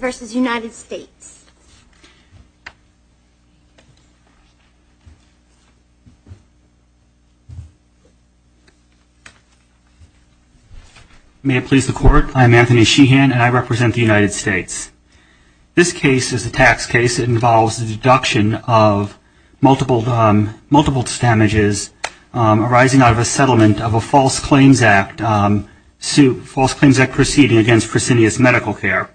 v. United States. May it please the Court, I am Anthony Sheehan and I represent the United States. This case is a tax case that involves the deduction of multiple damages arising out of a settlement of a false claims act proceeding against Fresenius Medical Care.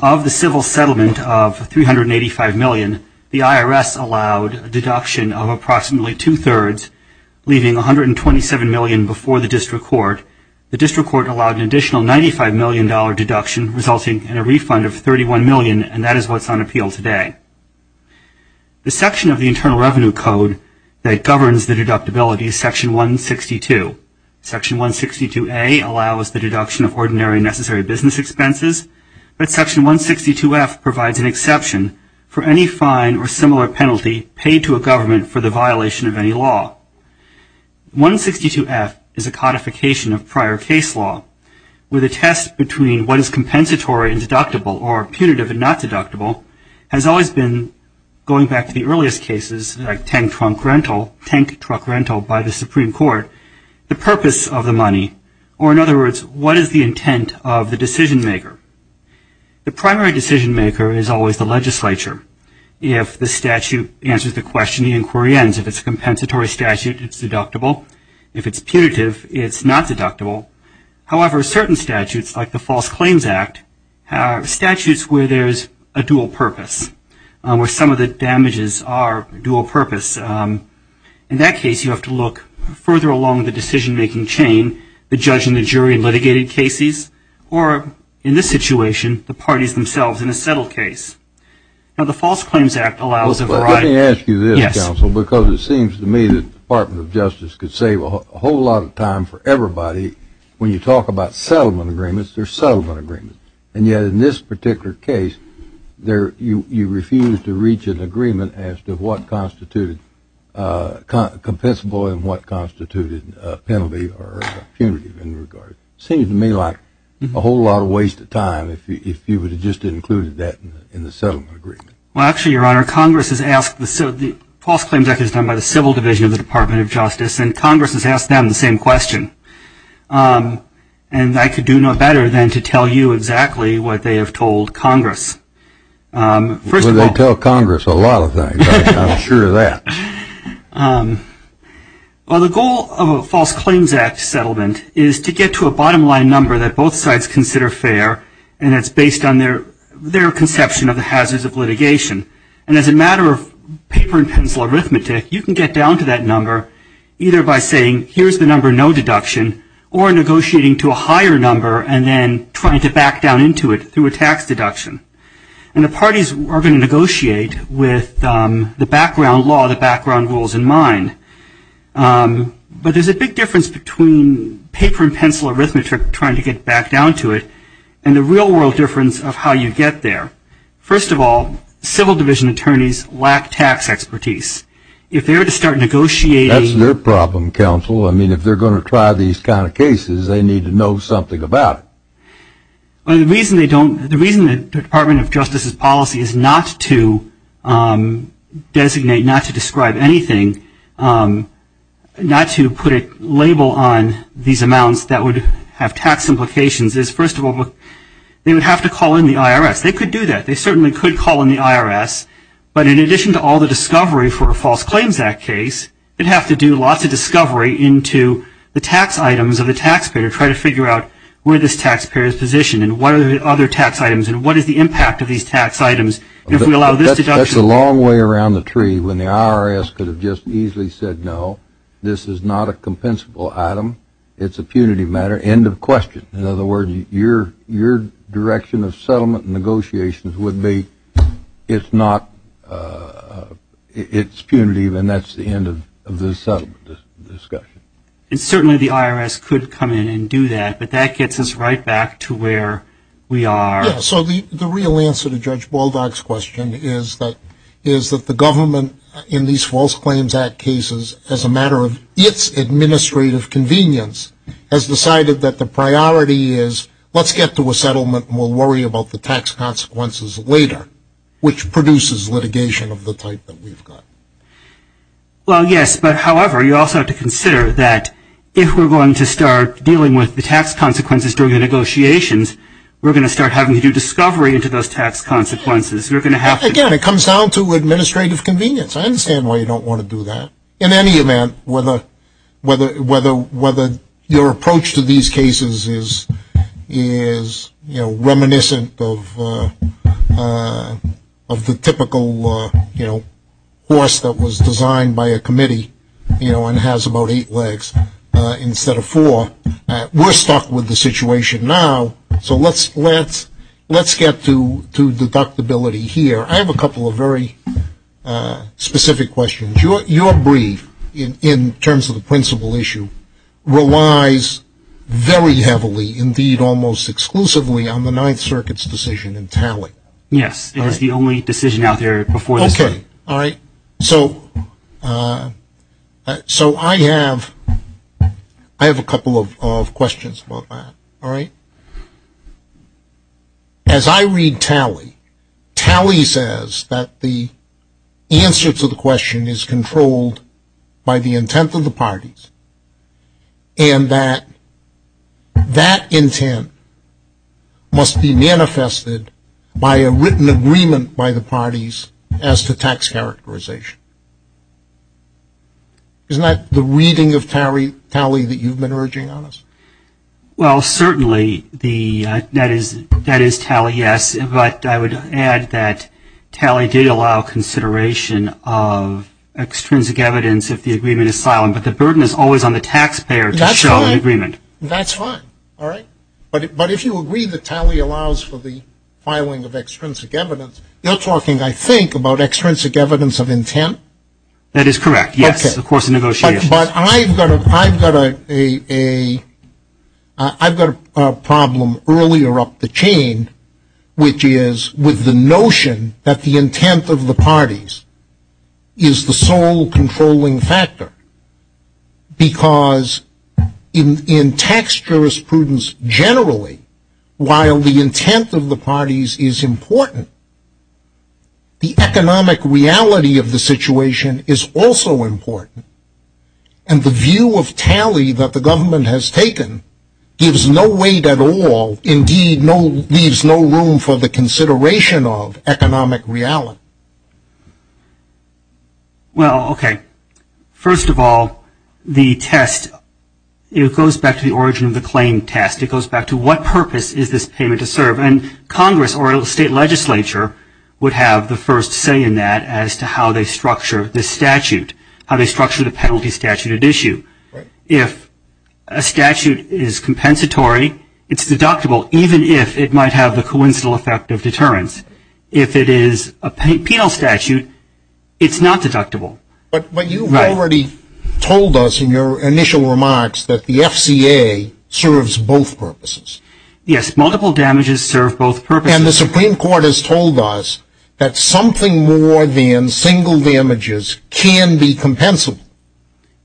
Of the civil settlement of $385 million, the IRS allowed a deduction of approximately two-thirds, leaving $127 million before the District Court. The District Court allowed an additional $95 million deduction, resulting in a refund of $31 million, and that is what's on appeal today. The section of the Internal Revenue Code that governs the deductibility is Section 162. Section 162A allows the deduction of ordinary and necessary business expenses. But Section 162F provides an exception for any fine or similar penalty paid to a government for the violation of any law. 162F is a codification of prior case law, where the test between what is compensatory and deductible, or punitive and not deductible, has always been, going back to the earliest cases, like tank-truck rental, tank-truck rental by the Supreme Court, the purpose of the money, or in other words, what is the intent of the decision-maker. The primary decision-maker is always the legislature. If the statute answers the question, the inquiry ends. If it's a compensatory statute, it's deductible. If it's punitive, it's not deductible. However, certain statutes, like the False Claims Act, have statutes where there's a dual purpose, where some of the damages are dual purpose. In that case, you have to look further along the decision-making chain, the judge and the jury in litigated cases, or in this situation, the parties themselves in a settled case. Now, the False Claims Act allows a variety. Let me ask you this, counsel, because it seems to me that the Department of Justice could save a whole lot of time for everybody. When you talk about settlement agreements, they're settlement agreements. And yet, in this particular case, you refuse to reach an agreement as to what constituted compensable and what constituted a penalty or a punitive in regard. It seems to me like a whole lot of waste of time if you would have just included that in the settlement agreement. Well, actually, Your Honor, Congress has asked the, so the False Claims Act is done by the Civil Division of the Department of Justice, and Congress has asked them the same question. And I could do no better than to tell you exactly what they have told Congress. First of all. Well, they tell Congress a lot of things. I'm sure of that. Well, the goal of a False Claims Act settlement is to get to a bottom line number that both sides consider fair, and it's based on their conception of the hazards of litigation. And as a matter of paper and pencil arithmetic, you can get down to that number either by saying here's the number no deduction or negotiating to a higher number and then trying to back down into it through a tax deduction. And the parties are going to negotiate with the background law, the background rules in mind. But there's a big difference between paper and pencil arithmetic trying to get back down to it and the real world difference of how you get there. First of all, Civil Division attorneys lack tax expertise. If they were to start negotiating. That's their problem, counsel. I mean, if they're going to try these kind of cases, they need to know something about it. The reason they don't, the reason the Department of Justice's policy is not to designate, not to describe anything, not to put a label on these amounts that would have tax implications is first of all, they would have to call in the IRS. They could do that. They certainly could call in the IRS, but in addition to all the discovery for a False Claims Act case, they'd have to do lots of discovery into the tax items of the taxpayer, try to figure out where this taxpayer is positioned and what are the other tax items and what is the impact of these tax items. If we allow this deduction. That's a long way around the tree when the IRS could have just easily said no. This is not a compensable item. It's a punitive matter, end of question. In other words, your direction of settlement negotiations would be it's not, it's punitive and that's the end of this settlement discussion. And certainly the IRS could come in and do that, but that gets us right back to where we are. Yeah, so the real answer to Judge Baldock's question is that the government in these False Claims Act cases, as a matter of its administrative convenience, has decided that the priority is let's get to a settlement and we'll worry about the tax consequences later, which produces litigation of the type that we've got. Well, yes, but however, you also have to consider that if we're going to start dealing with the tax consequences during the negotiations, we're going to start having to do discovery into those tax consequences. You're going to have to. Again, it comes down to administrative convenience. I understand why you don't want to do that. In any event, whether your approach to these cases is, you know, a process that was designed by a committee, you know, and has about eight legs instead of four, we're stuck with the situation now, so let's get to deductibility here. I have a couple of very specific questions. Your brief, in terms of the principal issue, relies very heavily, indeed almost exclusively, on the Ninth Circuit's decision in tally. Yes, it is the only decision out there before this. Okay, all right, so I have a couple of questions about that, all right? As I read tally, tally says that the answer to the question is controlled by the intent of the parties, and that that intent must be manifested by a written agreement by the parties as to tax characterization. Isn't that the reading of tally that you've been urging on us? Well, certainly, that is tally, yes, but I would add that tally did allow consideration of extrinsic evidence if the agreement is silent, but the burden is always on the taxpayer to show an agreement. That's fine, all right? But if you agree that tally allows for the filing of extrinsic evidence, you're talking, I think, about extrinsic evidence of intent? That is correct, yes, of course, in negotiations. But I've got a problem earlier up the chain, which is with the notion that the intent of the parties is the sole controlling factor, because in tax jurisprudence generally, while the intent of the parties is important, the economic reality of the situation is also important, and the view of tally that the government has taken gives no weight at all, indeed, leaves no room for the consideration of economic reality. Well, okay, first of all, the test, it goes back to the origin of the claim test. It goes back to what purpose is this payment to serve? And Congress or state legislature would have the first say in that as to how they structure the statute, how they structure the penalty statute at issue. If a statute is compensatory, it's deductible, even if it might have the coincidental effect of deterrence. If it is a penal statute, it's not deductible. But you've already told us in your initial remarks that the FCA serves both purposes. Yes, multiple damages serve both purposes. And the Supreme Court has told us that something more than single damages can be compensable.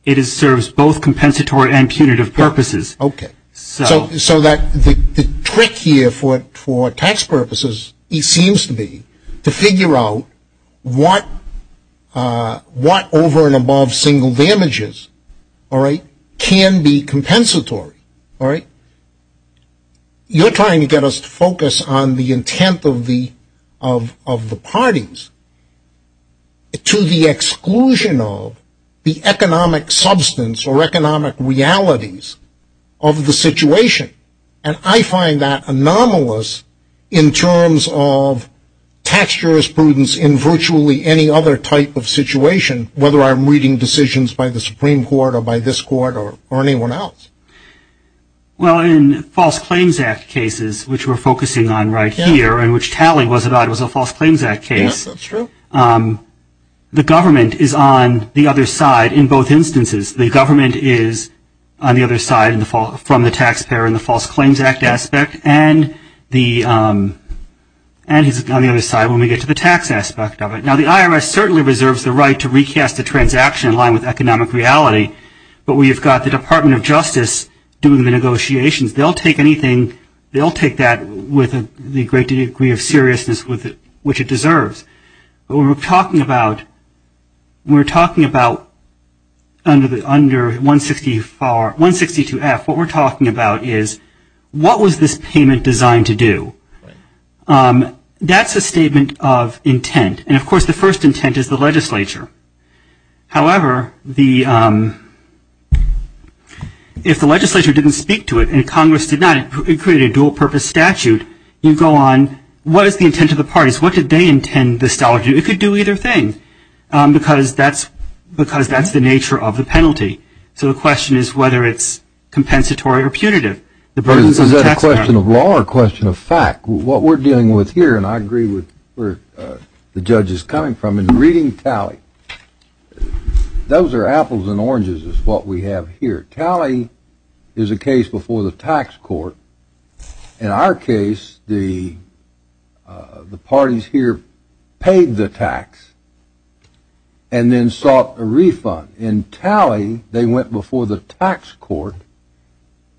It serves both compensatory and punitive purposes. Okay. So the trick here for tax purposes, it seems to be, to figure out what over and above single damages, all right, can be compensatory, all right. You're trying to get us to focus on the intent of the parties to the exclusion of the economic substance or economic realities of the situation. And I find that anomalous in terms of tax jurisprudence in virtually any other type of situation, whether I'm reading decisions by the Supreme Court or by this court or anyone else. Well, in False Claims Act cases, which we're focusing on right here and which Tally was about was a False Claims Act case, the government is on the other side in both instances. The government is on the other side from the taxpayer in the False Claims Act aspect and he's on the other side when we get to the tax aspect of it. Now, the IRS certainly reserves the right to recast a transaction in line with economic reality. But we've got the Department of Justice doing the negotiations. They'll take anything, they'll take that with the great degree of seriousness which it deserves. What we're talking about, we're talking about under 162-F, what we're talking about is what was this payment designed to do? That's a statement of intent. And of course, the first intent is the legislature. However, if the legislature didn't speak to it and Congress did not, it created a dual purpose statute, you go on, what is the intent of the parties? What did they intend this dollar to do? It could do either thing because that's the nature of the penalty. So the question is whether it's compensatory or punitive. The burdens of the taxpayer. Is that a question of law or a question of fact? What we're dealing with here, and I agree with where the judge is coming from in reading Tally, those are apples and oranges is what we have here. Tally is a case before the tax court. In our case, the parties here paid the tax and then sought a refund. In Tally, they went before the tax court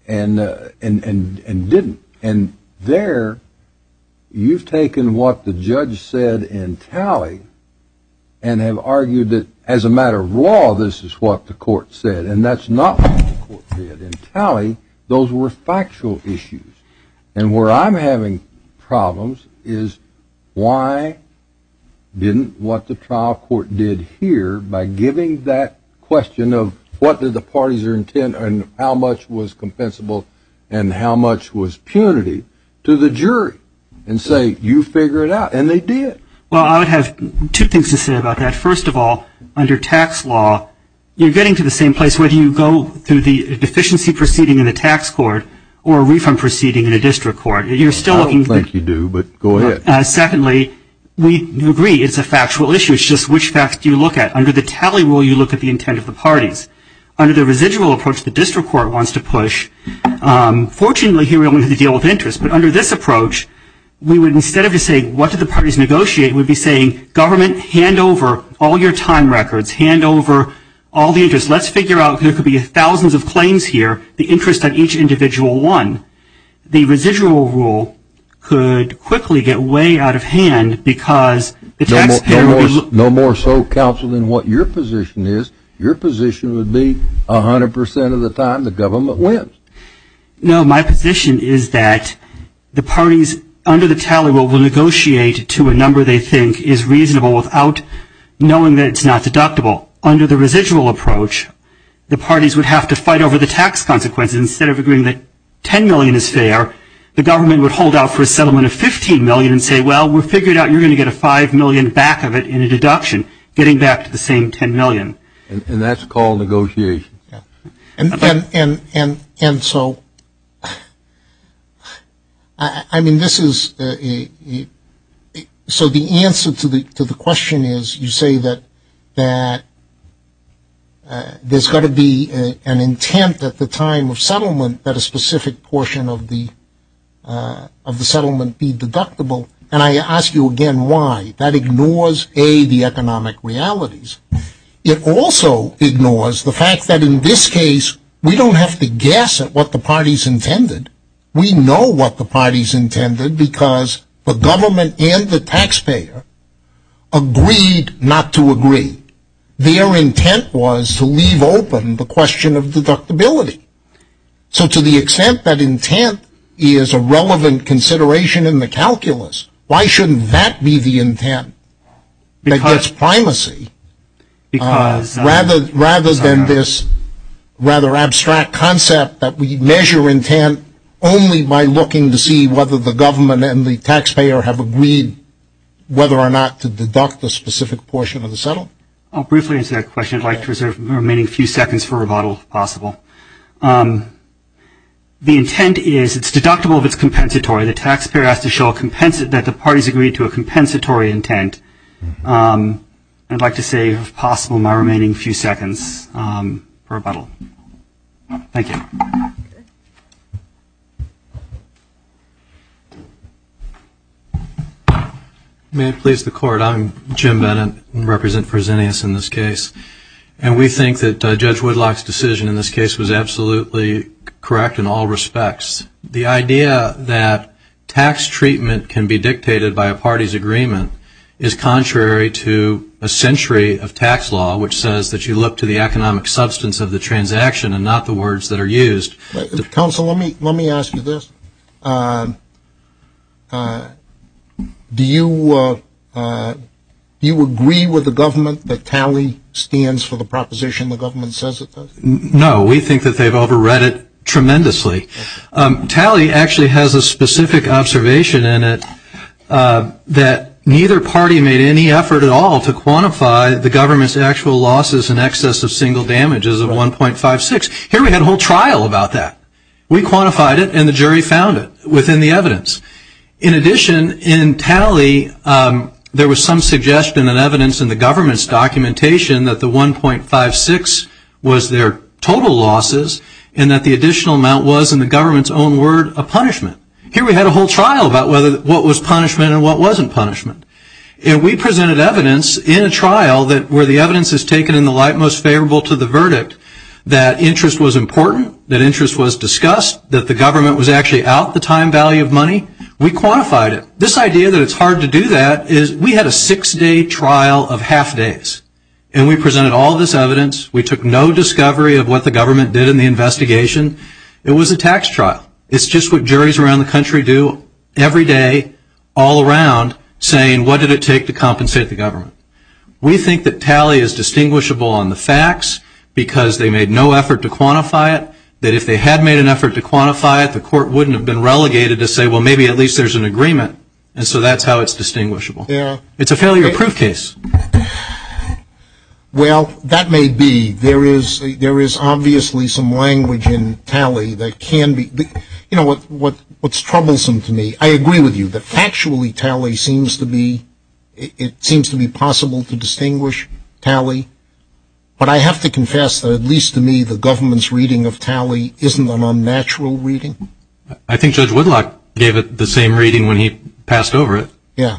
and didn't. And there, you've taken what the judge said in Tally and have argued that as a matter of law, this is what the court said. And that's not what the court did. In Tally, those were factual issues. And where I'm having problems is why didn't what the trial court did here by giving that question of what did the parties intend and how much was compensable and how much was punitive to the jury and say, you figure it out. And they did. Well, I would have two things to say about that. First of all, under tax law, you're getting to the same place. Whether you go through the deficiency proceeding in the tax court or a refund proceeding in a district court, you're still looking. I don't think you do. But go ahead. Secondly, we agree it's a factual issue. It's just which facts do you look at. Under the Tally rule, you look at the intent of the parties. Under the residual approach, the district court wants to push. Fortunately, here we only have the deal of interest. But under this approach, we would instead of just saying what did the parties negotiate, we'd be saying government, hand over all your time records. Hand over all the interest. Let's figure out if there could be thousands of claims here, the interest on each individual one. The residual rule could quickly get way out of hand because the tax payer would be. No more so, counsel, than what your position is. Your position would be 100% of the time the government wins. No, my position is that the parties under the Tally rule will negotiate to a number they think is reasonable without knowing that it's not deductible. Under the residual approach, the parties would have to fight over the tax consequences. Instead of agreeing that $10 million is fair, the government would hold out for a settlement of $15 million and say, well, we've figured out you're going to get a $5 million back of it in a deduction, getting back to the same $10 million. And that's called negotiation. And so, I mean, this is, so the answer to the question is you say that there's got to be an intent at the time of settlement that a specific portion of the settlement be deductible. And I ask you again why. That ignores, A, the economic realities. It also ignores the fact that in this case, we don't have to guess at what the parties intended. We know what the parties intended because the government and the taxpayer agreed not to agree. Their intent was to leave open the question of deductibility. So to the extent that intent is a relevant consideration in the calculus, why shouldn't that be the intent that gets primacy rather than this rather abstract concept that we measure intent only by looking to see whether the government and the taxpayer have agreed whether or not to deduct the specific portion of the settlement? I'll briefly answer that question. I'd like to reserve the remaining few seconds for rebuttal, if possible. The intent is it's deductible if it's compensatory. The taxpayer has to show that the parties agreed to a compensatory intent. I'd like to save, if possible, my remaining few seconds for rebuttal. Thank you. May it please the court. I'm Jim Bennett and represent Fresenius in this case. And we think that Judge Woodlock's decision in this case was absolutely correct in all respects. The idea that tax treatment can be dictated by a party's agreement is contrary to a century of tax law which says that you look to the economic substance of the transaction and not the words that are used. Counsel, let me ask you this. Do you agree with the government that tally stands for the proposition the government says it does? No. We think that they've overread it tremendously. Tally actually has a specific observation in it that neither party made any effort at all to quantify the government's actual losses in excess of single damages of 1.56. Here we had a whole trial about that. We quantified it and the jury found it within the evidence. In addition, in tally, there was some suggestion and evidence in the government's documentation that the 1.56 was their total losses and that the additional amount was, in the government's own word, a punishment. Here we had a whole trial about what was punishment and what wasn't punishment. And we presented evidence in a trial where the evidence is taken in the light most favorable to the verdict that interest was important, that interest was discussed, that the government was actually out the time value of money. We quantified it. This idea that it's hard to do that is we had a six-day trial of half days and we presented all this evidence. We took no discovery of what the government did in the investigation. It was a tax trial. It's just what juries around the country do every day, all around, saying what did it take to compensate the government. We think that tally is distinguishable on the facts because they made no effort to quantify it, that if they had made an effort to quantify it, the court wouldn't have been relegated to say, well, maybe at least there's an agreement. And so that's how it's distinguishable. It's a failure-proof case. Well, that may be. There is obviously some language in tally that can be, you know, what's troublesome to me. I agree with you that factually tally seems to be, it seems to be possible to distinguish tally. But I have to confess that at least to me, the government's reading of tally isn't an unnatural reading. I think Judge Woodlock gave it the same reading when he passed over it. Yeah.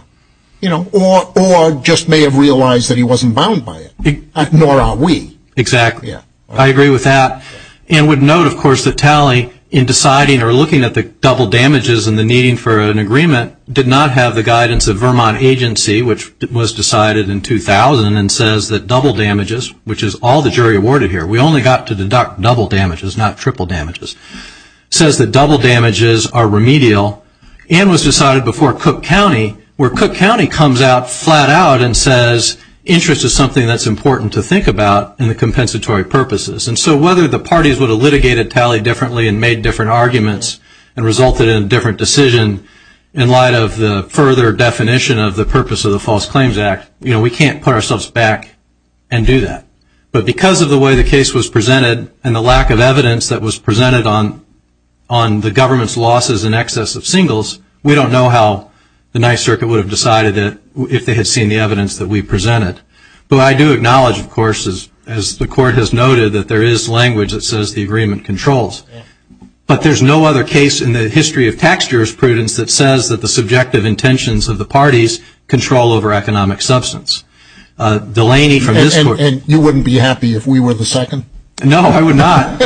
You know, or just may have realized that he wasn't bound by it, nor are we. Exactly. I agree with that and would note, of course, that tally in deciding or looking at the double damages and the needing for an agreement did not have the guidance of Vermont agency, which was decided in 2000 and says that double damages, which is all the jury awarded here, we only got to deduct double damages, not triple damages, says that double damages are remedial and was decided before Cook County, where Cook County comes out flat out and says interest is something that's important to think about in the compensatory purposes. And so whether the parties would have litigated tally differently and made different arguments and resulted in a different decision in light of the further definition of the purpose of the False Claims Act, you know, we can't put ourselves back and do that. But because of the way the case was presented and the lack of evidence that was presented on the government's losses in excess of singles, we don't know how the Ninth Circuit would have decided that if they had seen the evidence that we presented. But I do acknowledge, of course, as the court has noted, that there is language that says the agreement controls. But there's no other case in the history of tax jurors prudence that says that the subjective intentions of the parties control over economic substance. Delaney from this court. And you wouldn't be happy if we were the second? No, I would not.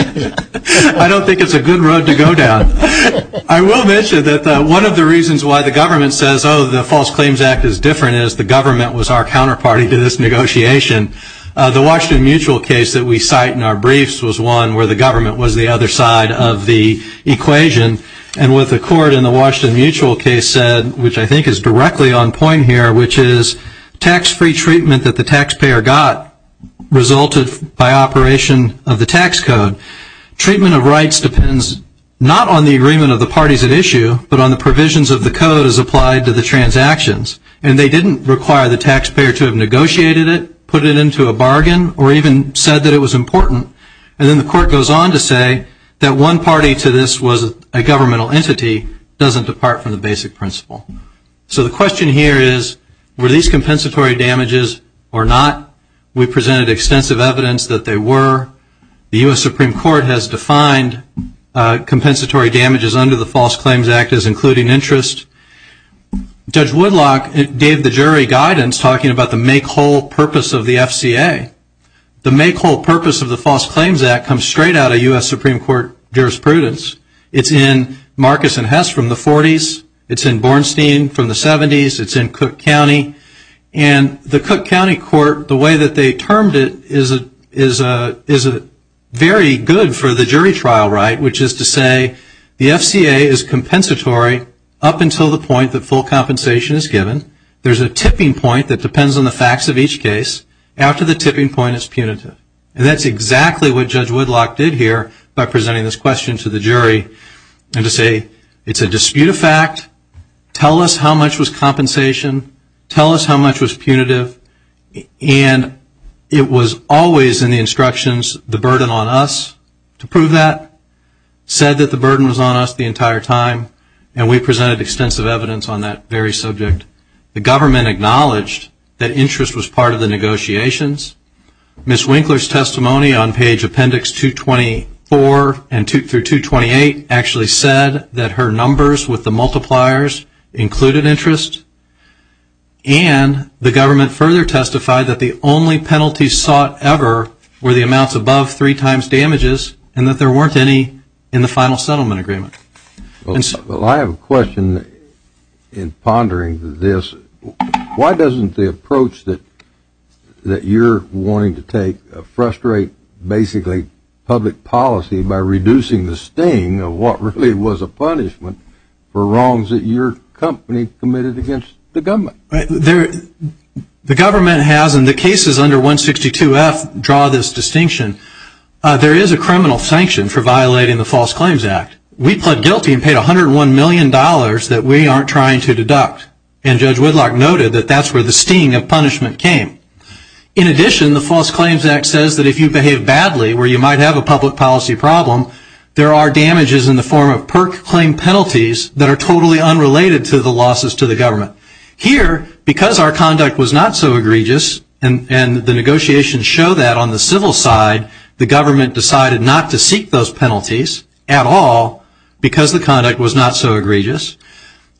I don't think it's a good road to go down. I will mention that one of the reasons why the government says, oh, the False Claims Act is different is the government was our counterparty to this negotiation. The Washington Mutual case that we cite in our briefs was one where the government was the other side of the equation. And what the court in the Washington Mutual case said, which I think is directly on point here, which is tax-free treatment that the taxpayer got resulted by operation of the tax code. Treatment of rights depends not on the agreement of the parties at issue, but on the provisions of the code as applied to the transactions. And they didn't require the taxpayer to have negotiated it, put it into a bargain, or even said that it was important. And then the court goes on to say that one party to this was a governmental entity doesn't depart from the basic principle. So the question here is, were these compensatory damages or not? We presented extensive evidence that they were. The U.S. Supreme Court has defined compensatory damages under the False Claims Act as including interest. Judge Woodlock gave the jury guidance talking about the make-whole purpose of the FCA. The make-whole purpose of the False Claims Act comes straight out of U.S. Supreme Court jurisprudence. It's in Marcus and Hess from the 40s. It's in Bornstein from the 70s. It's in Cook County. And the Cook County court, the way that they termed it is very good for the jury trial right, which is to say the FCA is compensatory up until the point that full compensation is given. There's a tipping point that depends on the facts of each case. After the tipping point, it's punitive. And that's exactly what Judge Woodlock did here by presenting this question to the jury and to say it's a dispute of fact. Tell us how much was compensation. Tell us how much was punitive. And it was always in the instructions the burden on us to prove that. Said that the burden was on us the entire time. And we presented extensive evidence on that very subject. The government acknowledged that interest was part of the negotiations. Ms. Winkler's testimony on page appendix 224 through 228 actually said that her numbers with the multipliers included interest. And the government further testified that the only penalties sought ever were the amounts above three times damages and that there weren't any in the final settlement agreement. Well, I have a question in pondering this. Why doesn't the approach that you're wanting to take frustrate basically public policy by reducing the sting of what really was a punishment for wrongs that your company committed against the government? The government has in the cases under 162F draw this distinction. There is a criminal sanction for violating the False Claims Act. We pled guilty and paid $101 million that we aren't trying to deduct. And Judge Woodlock noted that that's where the sting of punishment came. In addition, the False Claims Act says that if you behave badly where you might have a public policy problem, there are damages in the form of per claim penalties that are totally unrelated to the losses to the government. Here, because our conduct was not so egregious and the negotiations show that on the civil side, the government decided not to seek those penalties at all because the conduct was not so egregious,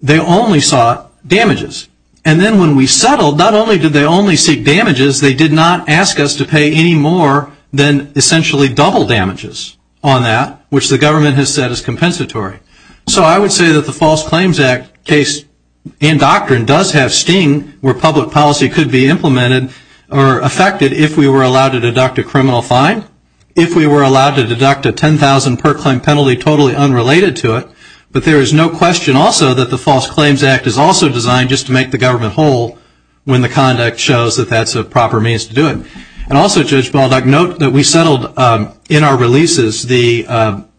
they only sought damages. And then when we settled, not only did they only seek damages, they did not ask us to pay any more than essentially double damages on that, which the government has said is compensatory. So I would say that the False Claims Act case and doctrine does have sting where public policy could be implemented or affected if we were allowed to deduct a criminal fine, if we were allowed to deduct a $10,000 per claim penalty totally unrelated to it. But there is no question also that the False Claims Act is also designed just to make the government whole when the conduct shows that that's a proper means to do it. And also, Judge Baldock, note that we settled in our releases the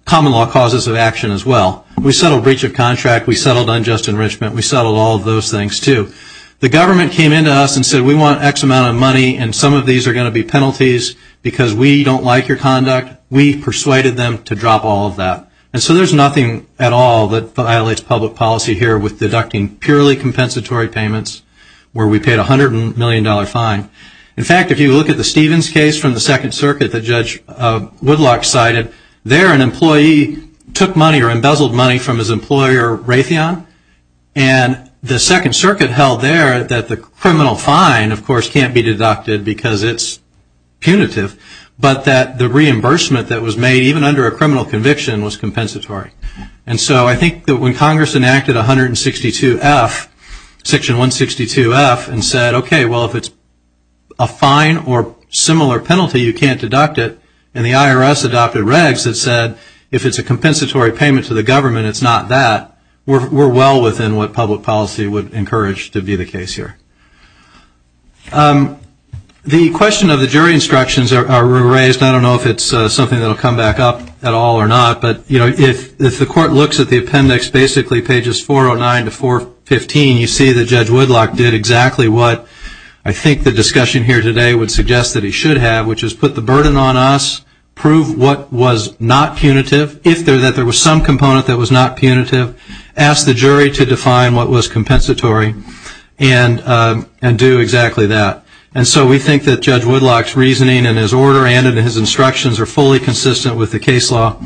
common law causes of action as well. We settled breach of contract, we settled unjust enrichment, we settled all of those things too. The government came in to us and said we want X amount of money and some of these are going to be penalties because we don't like your conduct. We persuaded them to drop all of that. And so there's nothing at all that violates public policy here with deducting purely compensatory payments where we paid a $100 million fine. In fact, if you look at the Stevens case from the Second Circuit that Judge Woodlock cited, there an employee took money or embezzled money from his employer Raytheon and the Second Circuit held there that the criminal fine, of course, can't be deducted because it's punitive, but that the reimbursement that was made even under a criminal conviction was compensatory. And so I think that when Congress enacted 162F, Section 162F and said, okay, well, if it's a fine or similar penalty, you can't deduct it, and the IRS adopted regs that said if it's a compensatory payment to the government, it's not that, we're well within what public policy would encourage to be the case here. The question of the jury instructions are raised, I don't know if it's something that will come back up at all or not, but, you know, if the court looks at the appendix basically pages 409 to 415, you see that Judge Woodlock did exactly what I think the discussion here today would suggest that he should have, which is put the burden on us, prove what was not punitive, if there was some component that was not punitive, ask the jury to define what was compensatory, and do exactly that. And so we think that Judge Woodlock's reasoning and his order and his instructions are fully consistent with the case law.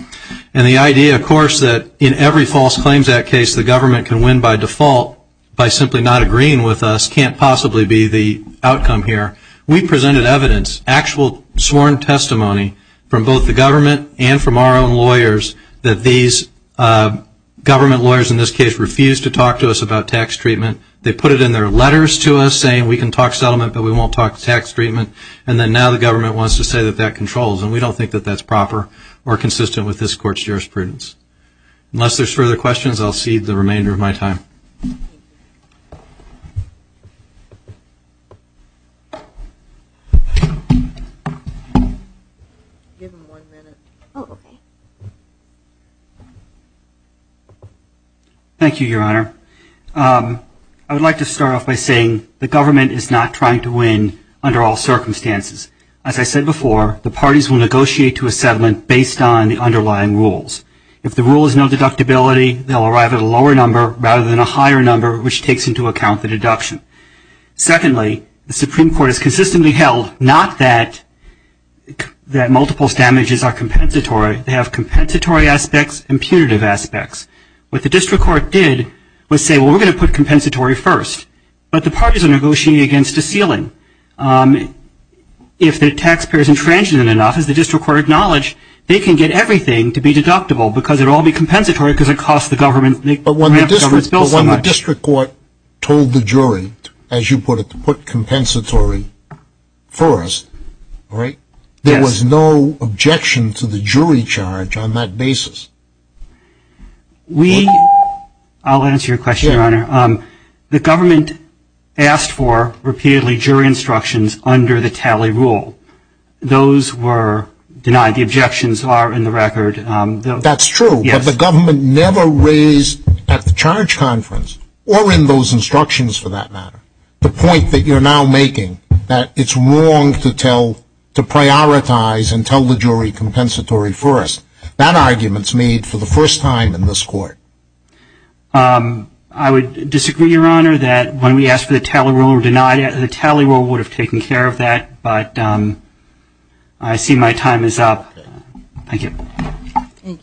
And the idea, of course, that in every False Claims Act case the government can win by default by simply not agreeing with us can't possibly be the outcome here. We presented evidence, actual sworn testimony, from both the government and from our own lawyers that these government lawyers in this case refused to talk to us about tax treatment. They put it in their letters to us saying we can talk settlement but we won't talk tax treatment, and then now the government wants to say that that controls, and we don't think that that's proper or consistent with this court's jurisprudence. Unless there's further questions, I'll cede the remainder of my time. Thank you, Your Honor. I would like to start off by saying the government is not trying to win under all circumstances. As I said before, the parties will negotiate to a settlement based on the underlying rules. If the rule is no deductibility, they'll arrive at a lower number rather than a higher number which takes into account the deduction. Secondly, the Supreme Court has consistently held not that multiple damages are compensatory. They have compensatory aspects and punitive aspects. What the district court did was say, well, we're going to put compensatory first, but the parties are negotiating against a ceiling. If the taxpayer is intransigent enough, as the district court acknowledged, they can get everything to be deductible because it will all be compensatory because it costs the government, the government's bill so much. But when the district court told the jury, as you put it, to put compensatory first, right, there was no objection to the jury charge on that basis. We, I'll answer your question, Your Honor. The government asked for repeatedly jury instructions under the tally rule. Those were denied. The objections are in the record. That's true, but the government never raised at the charge conference or in those instructions for that matter, the point that you're now making that it's wrong to tell, to prioritize and tell the jury compensatory first. That argument's made for the first time in this court. I would disagree, Your Honor, that when we asked for the tally rule or denied it, the tally rule would have taken care of that, but I see my time is up. Thank you. Thank you.